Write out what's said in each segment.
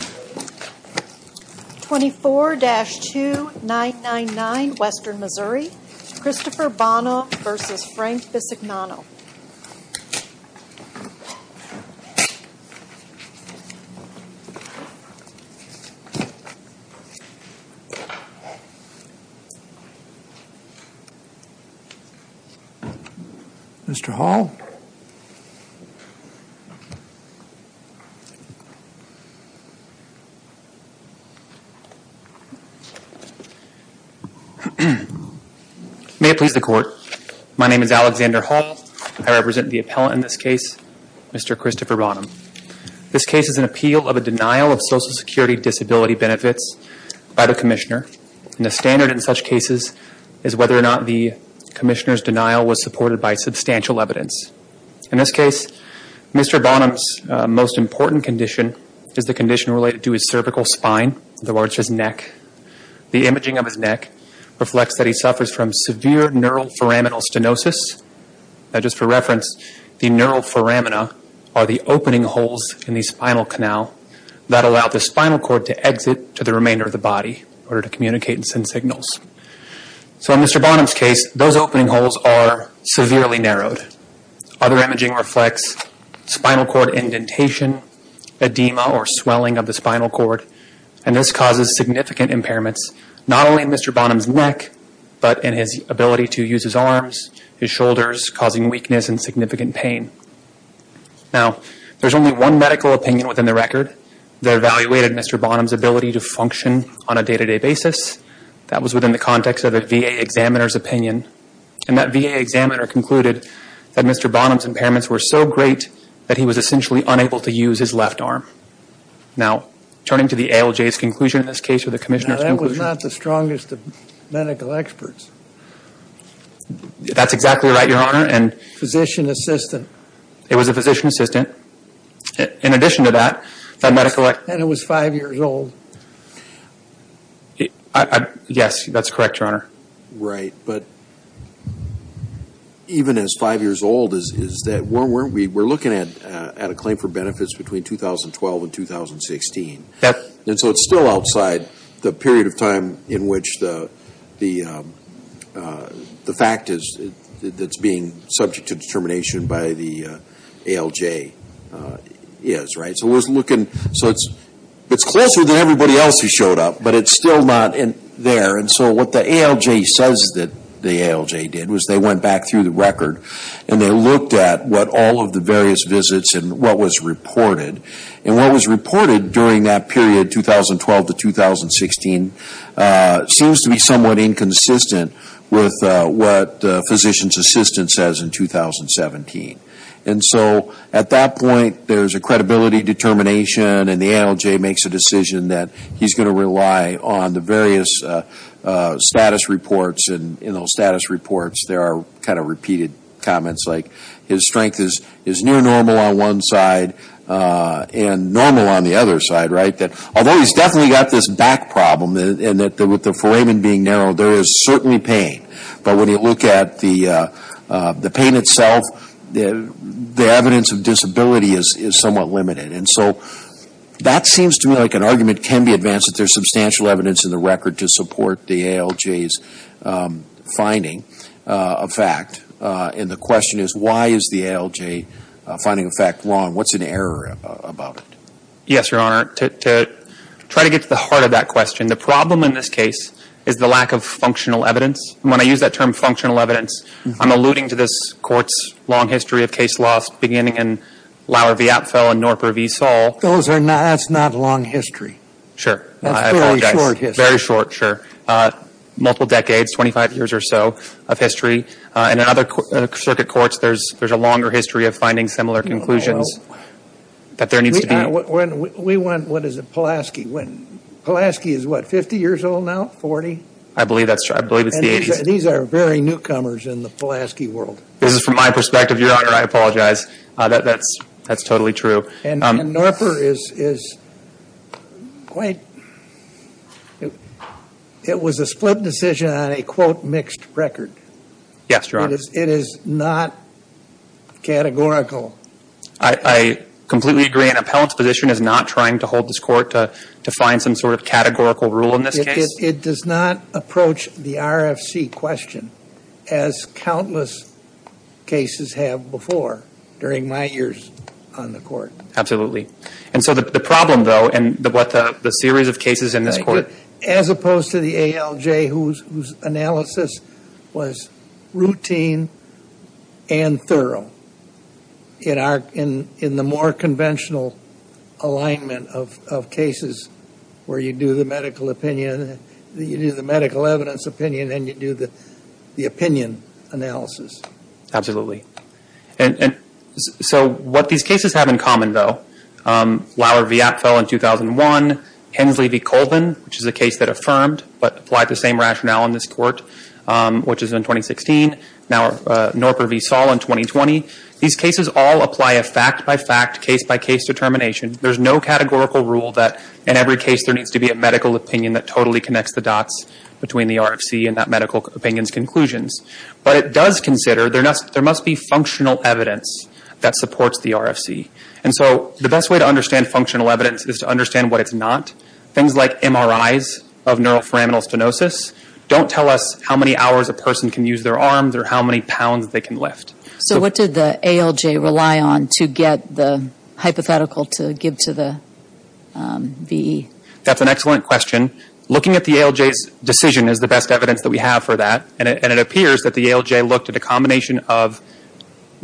24-2999 Western Missouri, Christopher Bonham v. Frank Bisignano Mr. Hall May it please the Court, my name is Alexander Hall. I represent the appellant in this case, Mr. Christopher Bonham. This case is an appeal of a denial of Social Security disability benefits by the Commissioner, and the standard in such cases is whether or not the Commissioner's denial was supported by substantial evidence. In this case, Mr. Bonham's most important condition is the condition related to his cervical spine, in other words, his neck. The imaging of his neck reflects that he suffers from severe neural foraminal stenosis. Now just for reference, the neural foramina are the opening holes in the spinal canal that allow the spinal cord to exit to the remainder of the body in order to communicate and send signals. So in Mr. Bonham's case, those opening holes are severely narrowed. Other imaging reflects spinal cord indentation, edema or swelling of the spinal cord, and this causes significant impairments, not only in Mr. Bonham's neck, but in his ability to use his arms, his shoulders, causing weakness and significant pain. Now there's only one medical opinion within the record that evaluated Mr. Bonham's ability to function on a day-to-day basis. That was within the context of a VA examiner's opinion, and that VA examiner concluded that Mr. Bonham's impairments were so great that he was essentially unable to use his left arm. Now, turning to the ALJ's conclusion in this case, or the Commissioner's conclusion... Now that was not the strongest of medical experts. That's exactly right, Your Honor, and... Physician assistant. It was a physician assistant. In addition to that, that medical... And it was five years old. Yes, that's correct, Your Honor. Right, but even as five years old, we're looking at a claim for benefits between 2012 and 2016, and so it's still outside the period of time in which the fact that's being subject to determination by the ALJ is, right? So it's closer than everybody else who showed up, but it's still not there, and so what the ALJ says that the ALJ did was they went back through the record and they looked at what all of the various visits and what was reported, and what was reported during that period, 2012 to 2016, seems to be somewhat inconsistent with what the physician's assistant says in 2017. And so at that point, there's a credibility determination, and the ALJ makes a decision that he's going to rely on the various status reports, and in those status reports there are kind of repeated comments, like his strength is near normal on one side and normal on the other side, right? Although he's definitely got this back problem, and with the foramen being narrowed, there is certainly pain, but when you look at the pain itself, the evidence of disability is somewhat limited. And so that seems to me like an argument can be advanced if there's substantial evidence in the record to support the ALJ's finding of fact, and the question is why is the ALJ finding of fact wrong? What's in error about it? Yes, Your Honor. To try to get to the heart of that question, the problem in this case is the lack of functional evidence, and when I use that term functional evidence, I'm alluding to this court's long history of case loss beginning in Lauer v. Apfel and Norper v. Saul. Those are not, that's not long history. Sure. That's very short history. Very short, sure. Multiple decades, 25 years or so of history. And in other circuit courts, there's a longer history of finding similar conclusions that there needs to be. We want, what is it, Pulaski. Pulaski is what, 50 years old now, 40? I believe that's, I believe it's the 80s. These are very newcomers in the Pulaski world. This is from my perspective, Your Honor. I apologize. That's totally true. And Norper is quite, it was a split decision on a, quote, mixed record. Yes, Your Honor. It is not categorical. I completely agree. An appellant's position is not trying to hold this court to find some sort of categorical rule in this case. It does not approach the RFC question as countless cases have before during my years on the court. Absolutely. And so the problem, though, and what the series of cases in this court. As opposed to the ALJ whose analysis was routine and thorough. In the more conventional alignment of cases where you do the medical opinion, you do the medical evidence opinion, and you do the opinion analysis. Absolutely. And so what these cases have in common, though, Lauer v. Apfel in 2001, Hensley v. Colvin, which is a case that affirmed but applied the same rationale in this court, which is in 2016. Now, Norper v. Saul in 2020. These cases all apply a fact by fact, case by case determination. There's no categorical rule that in every case there needs to be a medical opinion that totally connects the dots between the RFC and that medical opinion's conclusions. But it does consider there must be functional evidence that supports the RFC. And so the best way to understand functional evidence is to understand what it's not. Things like MRIs of neuroforaminal stenosis don't tell us how many hours a person can use their arms or how many pounds they can lift. So what did the ALJ rely on to get the hypothetical to give to the VE? That's an excellent question. Looking at the ALJ's decision is the best evidence that we have for that. And it appears that the ALJ looked at a combination of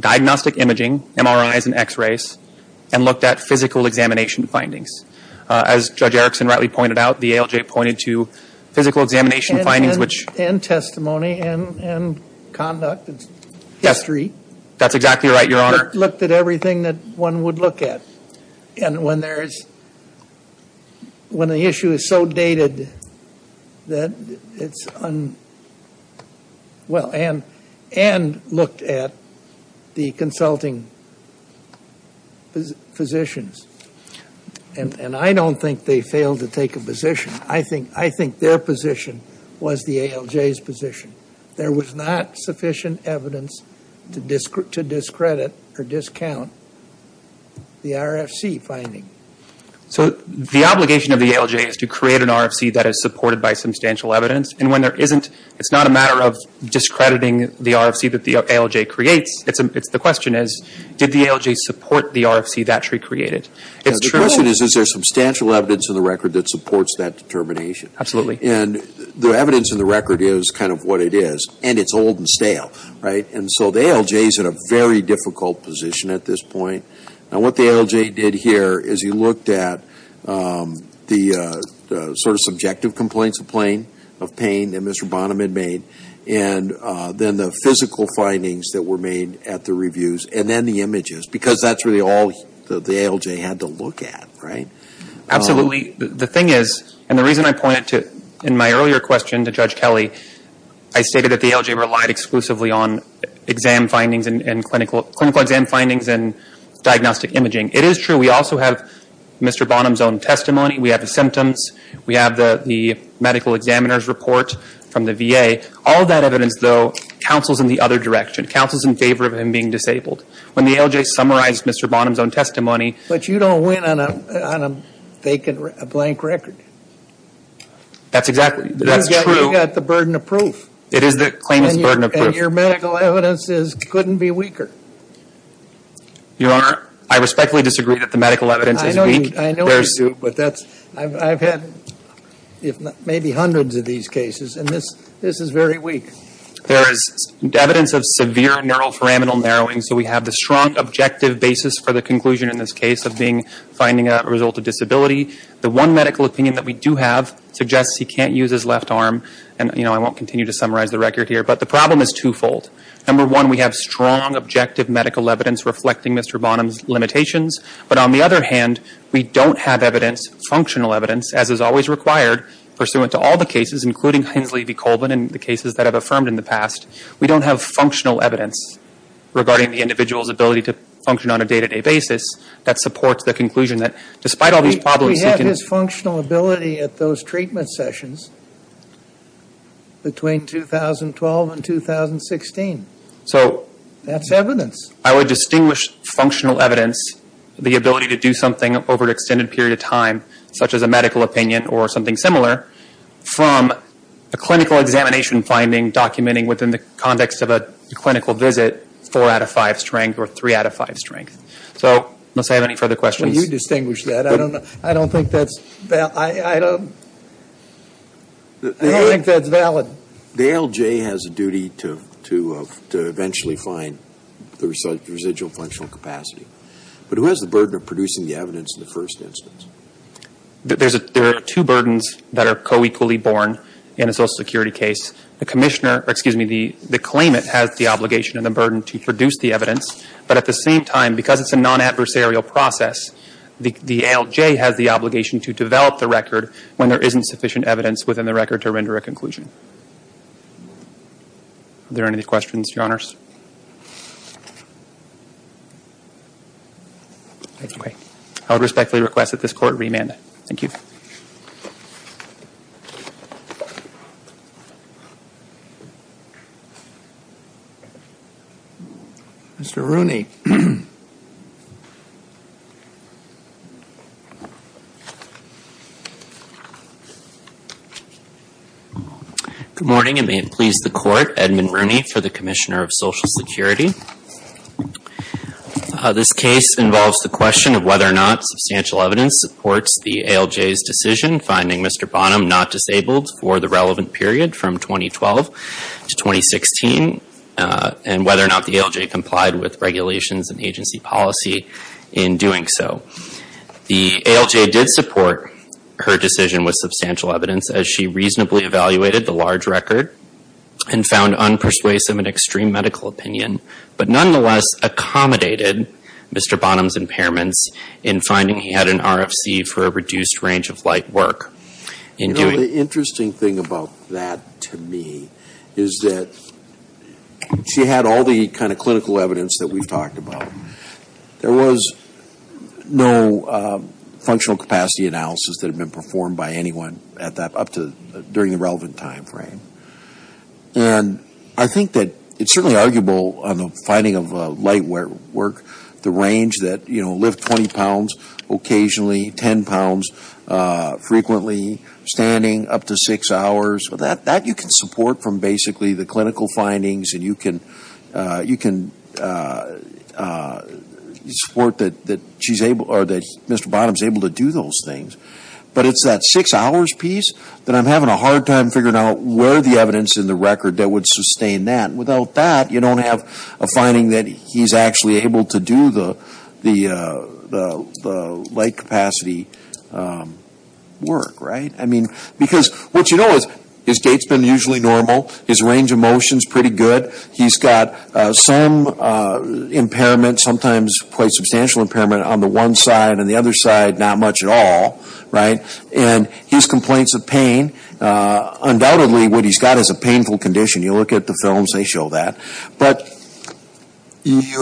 diagnostic imaging, MRIs and x-rays, and looked at physical examination findings. As Judge Erickson rightly pointed out, the ALJ pointed to physical examination findings. And testimony and conduct and history. That's exactly right, Your Honor. Looked at everything that one would look at. And when the issue is so dated that it's un- well, Ann looked at the consulting physicians. And I don't think they failed to take a position. I think their position was the ALJ's position. There was not sufficient evidence to discredit or discount the RFC finding. So the obligation of the ALJ is to create an RFC that is supported by substantial evidence. And when there isn't, it's not a matter of discrediting the RFC that the ALJ creates. The question is, did the ALJ support the RFC that she created? The question is, is there substantial evidence in the record that supports that determination? Absolutely. And the evidence in the record is kind of what it is. And it's old and stale, right? And so the ALJ is in a very difficult position at this point. And what the ALJ did here is he looked at the sort of subjective complaints of pain that Mr. Bonham had made. And then the physical findings that were made at the reviews. And then the images. Because that's really all the ALJ had to look at, right? Absolutely. The thing is, and the reason I pointed to in my earlier question to Judge Kelly, I stated that the ALJ relied exclusively on exam findings and clinical exam findings and diagnostic imaging. It is true we also have Mr. Bonham's own testimony. We have the symptoms. We have the medical examiner's report from the VA. All that evidence, though, counsels in the other direction, counsels in favor of him being disabled. When the ALJ summarized Mr. Bonham's own testimony. But you don't win on a vacant blank record. That's exactly. That's true. You've got the burden of proof. It is the claimant's burden of proof. And your medical evidence couldn't be weaker. Your Honor, I respectfully disagree that the medical evidence is weak. I know you do, but I've had maybe hundreds of these cases, and this is very weak. There is evidence of severe neural pyramidal narrowing. So we have the strong objective basis for the conclusion in this case of finding a result of disability. The one medical opinion that we do have suggests he can't use his left arm. And, you know, I won't continue to summarize the record here. But the problem is twofold. Number one, we have strong objective medical evidence reflecting Mr. Bonham's limitations. But on the other hand, we don't have evidence, functional evidence, as is always required, pursuant to all the cases, including Hensley v. Colbin and the cases that have affirmed in the past. We don't have functional evidence regarding the individual's ability to function on a day-to-day basis that supports the conclusion that despite all these problems he can. We have his functional ability at those treatment sessions between 2012 and 2016. So. That's evidence. I would distinguish functional evidence, the ability to do something over an extended period of time, such as a medical opinion or something similar, from a clinical examination finding documenting within the context of a clinical visit four out of five strength or three out of five strength. So must I have any further questions? Well, you distinguish that. I don't know. I don't think that's valid. The ALJ has a duty to eventually find the residual functional capacity. But who has the burden of producing the evidence in the first instance? There are two burdens that are co-equally born in a Social Security case. The commissioner, or excuse me, the claimant has the obligation and the burden to produce the evidence. But at the same time, because it's a non-adversarial process, the ALJ has the obligation to develop the record when there isn't sufficient evidence within the record to render a conclusion. Are there any questions, Your Honors? Okay. I would respectfully request that this Court remand. Thank you. Mr. Rooney. Good morning, and may it please the Court, Edmund Rooney for the Commissioner of Social Security. This case involves the question of whether or not substantial evidence supports the ALJ's decision finding Mr. Bonham not disabled for the relevant period from 2012 to 2016, and whether or not the ALJ complied with regulations and agency policy in doing so. The ALJ did support her decision with substantial evidence as she reasonably evaluated the large record and found unpersuasive and extreme medical opinion, but nonetheless accommodated Mr. Bonham's impairments in finding he had an RFC for a reduced range of light work. You know, the interesting thing about that to me is that she had all the kind of clinical evidence that we've talked about. There was no functional capacity analysis that had been performed by anyone up to during the relevant timeframe. And I think that it's certainly arguable on the finding of light work, the range that, you know, the weight of 20 pounds, occasionally 10 pounds, frequently standing up to six hours. That you can support from basically the clinical findings, and you can support that she's able, or that Mr. Bonham's able to do those things. But it's that six hours piece that I'm having a hard time figuring out where the evidence in the record that would sustain that. Without that, you don't have a finding that he's actually able to do the light capacity work, right? I mean, because what you know is his gait's been usually normal. His range of motion's pretty good. He's got some impairment, sometimes quite substantial impairment on the one side and the other side not much at all, right? And his complaints of pain, undoubtedly what he's got is a painful condition. You look at the films, they show that. But he's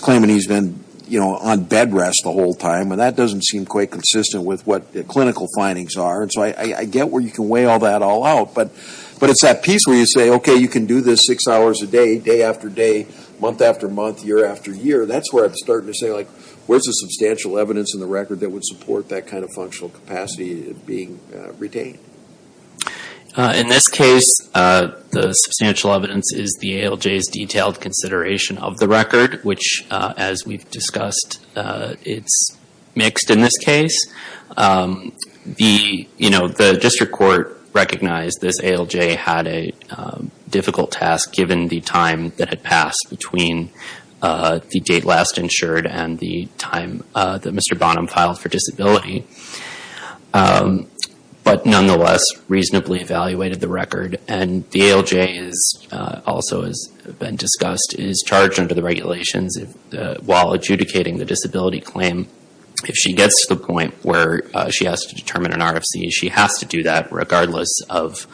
claiming he's been on bed rest the whole time, and that doesn't seem quite consistent with what the clinical findings are. And so I get where you can weigh all that all out, but it's that piece where you say, okay, you can do this six hours a day, day after day, month after month, year after year. That's where I'm starting to say, like, where's the substantial evidence in the record that would support that kind of functional capacity being retained? In this case, the substantial evidence is the ALJ's detailed consideration of the record, which, as we've discussed, it's mixed in this case. The district court recognized this ALJ had a difficult task, given the time that had passed between the date last insured and the time that Mr. Bonham filed for disability, but nonetheless reasonably evaluated the record. And the ALJ also, as has been discussed, is charged under the regulations while adjudicating the disability claim. If she gets to the point where she has to determine an RFC, she has to do that, regardless of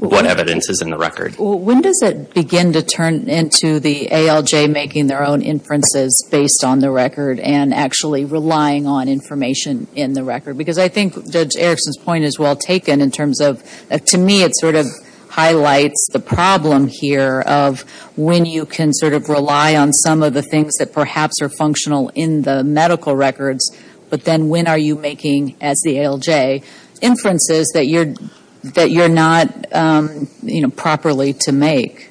what evidence is in the record. When does it begin to turn into the ALJ making their own inferences based on the record, and actually relying on information in the record? Because I think Judge Erickson's point is well taken in terms of, to me, it sort of highlights the problem here of when you can sort of rely on some of the things that perhaps are functional, in the medical records, but then when are you making, as the ALJ, inferences that you're not properly to make?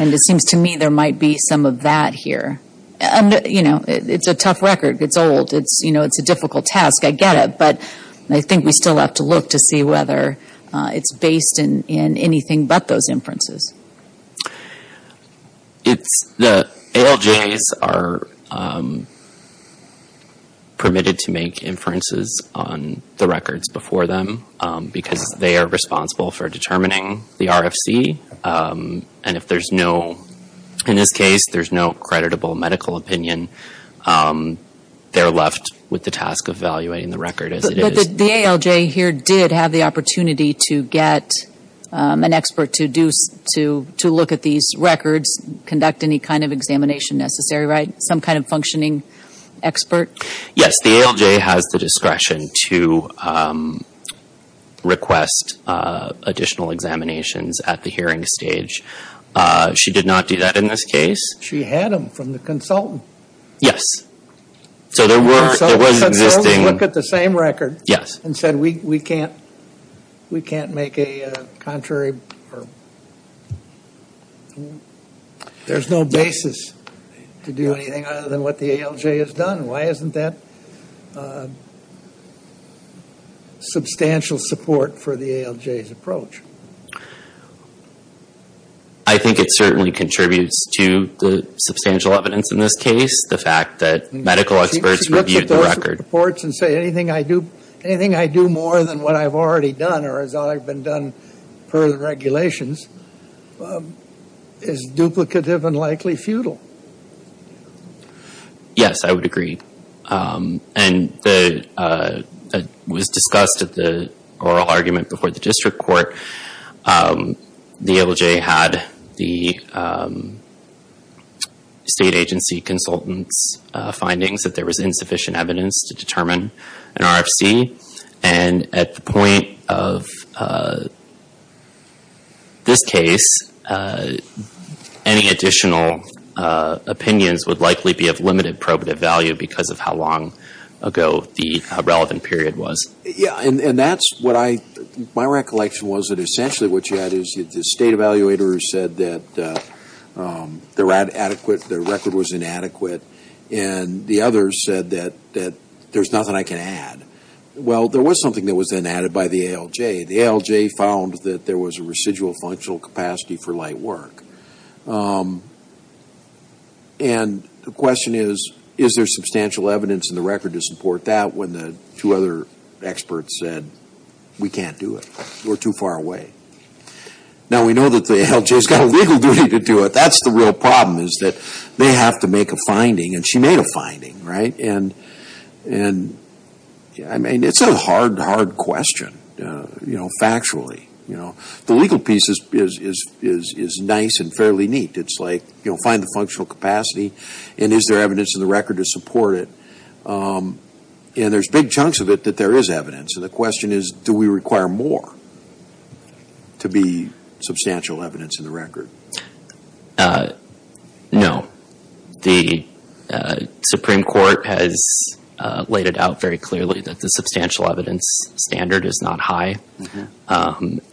And it seems to me there might be some of that here. It's a tough record. It's old. It's a difficult task. I get it. But I think we still have to look to see whether it's based in anything but those inferences. The ALJs are permitted to make inferences on the records before them, because they are responsible for determining the RFC. And if there's no, in this case, there's no creditable medical opinion, they're left with the task of evaluating the record as it is. But the ALJ here did have the opportunity to get an expert to look at these records, conduct any kind of examination necessary, right? Some kind of functioning expert? Yes. The ALJ has the discretion to request additional examinations at the hearing stage. She did not do that in this case. She had them from the consultant. Yes. So there was existing... So we looked at the same record and said we can't make a contrary... There's no basis to do anything other than what the ALJ has done. Why isn't that substantial support for the ALJ's approach? I think it certainly contributes to the substantial evidence in this case, the fact that medical experts reviewed the record. She can look at those reports and say anything I do more than what I've already done, or as I've been done per the regulations, is duplicative and likely futile. Yes. I would agree. And it was discussed at the oral argument before the district court. The ALJ had the state agency consultant's findings that there was insufficient evidence to determine an RFC. And at the point of this case, any additional opinions would likely be of limited probative value because the ALJ has no evidence. Because of how long ago the relevant period was. My recollection was that essentially what you had is the state evaluator said that the record was inadequate. And the others said that there's nothing I can add. Well, there was something that was then added by the ALJ. The ALJ found that there was a residual functional capacity for light work. And the question is, is there substantial evidence in the record to support that when the two other experts said, we can't do it. We're too far away. Now we know that the ALJ's got a legal duty to do it. That's the real problem is that they have to make a finding. And she made a finding, right? And it's a hard, hard question, factually. The legal piece is nice and fairly neat. It's like, find the functional capacity and is there evidence in the record to support it. And there's big chunks of it that there is evidence. And the question is, do we require more to be substantial evidence in the record? No. The Supreme Court has laid it out very clearly that the substantial evidence standard is not high.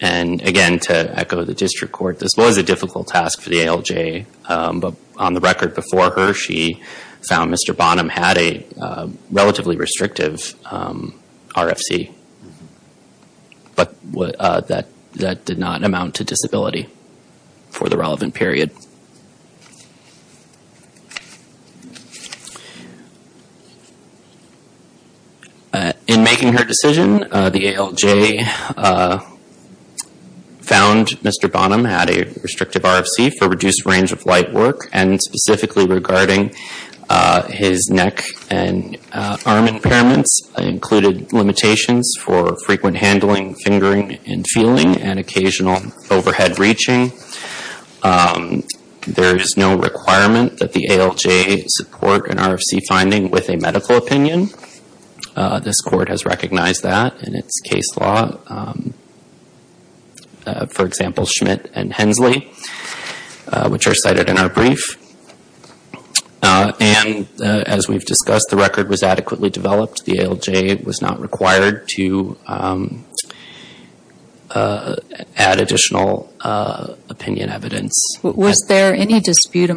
And again, to echo the district court, this was a difficult task for the ALJ. But on the record before her, she found Mr. Bonham had a relatively restrictive RFC. But that did not amount to disability for the relevant period. In making her decision, the ALJ found Mr. Bonham had a restrictive RFC for reduced range of work. And specifically regarding his neck and arm impairments, included limitations for frequent handling, fingering, and feeling, and occasional overhead reaching. There is no requirement that the ALJ support an RFC finding with a medical opinion. This court has recognized that in its case law. For example, Schmidt and Hensley, which are cited in our brief. And as we've discussed, the record was adequately developed. The ALJ was not required to add additional opinion evidence. Was there any dispute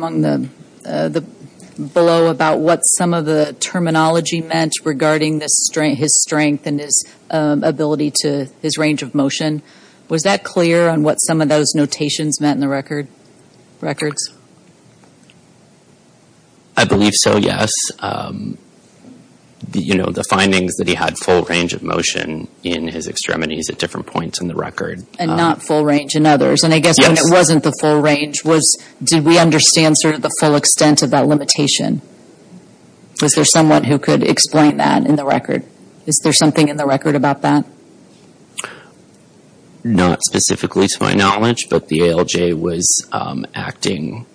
below about what some of the terminology meant regarding his strength and his ability to think? His range of motion, was that clear on what some of those notations meant in the records? I believe so, yes. The findings that he had full range of motion in his extremities at different points in the record. And not full range in others. And I guess when it wasn't the full range, did we understand sort of the full extent of that limitation? Was there someone who could explain that in the record? Not specifically to my knowledge, but the ALJ was acting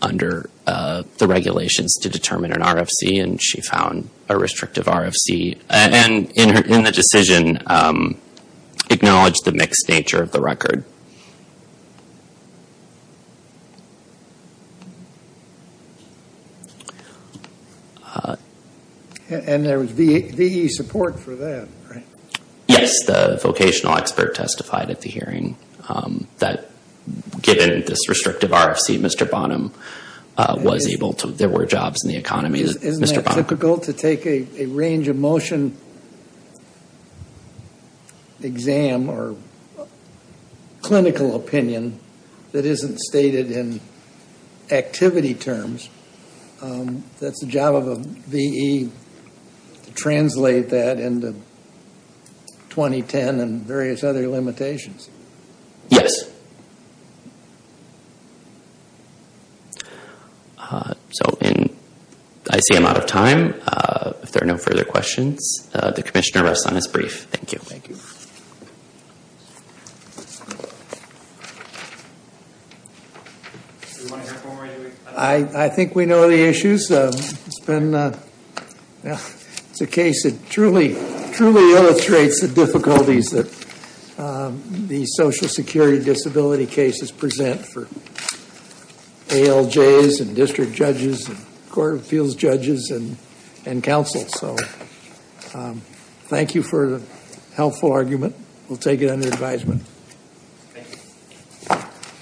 under the regulations to determine an RFC. And she found a restrictive RFC. And in the decision, acknowledged the mixed nature of the record. And there was VE support for that, right? Yes, the vocational expert testified at the hearing that given this restrictive RFC, Mr. Bonham was able to, there were jobs in the economy. Isn't that typical to take a range of motion exam or clinical opinion that isn't stated in activity terms? That's the job of a VE to translate that into 2010 and various other limitations. Yes. So, I see I'm out of time. If there are no further questions, the commissioner rest on his brief. Thank you. I think we know the issues. It's a case that truly illustrates the difficulties that the social security disability cases present for ALJs and district judges and court of appeals judges and counsel. So, thank you for the helpful argument. We'll take it under advisement.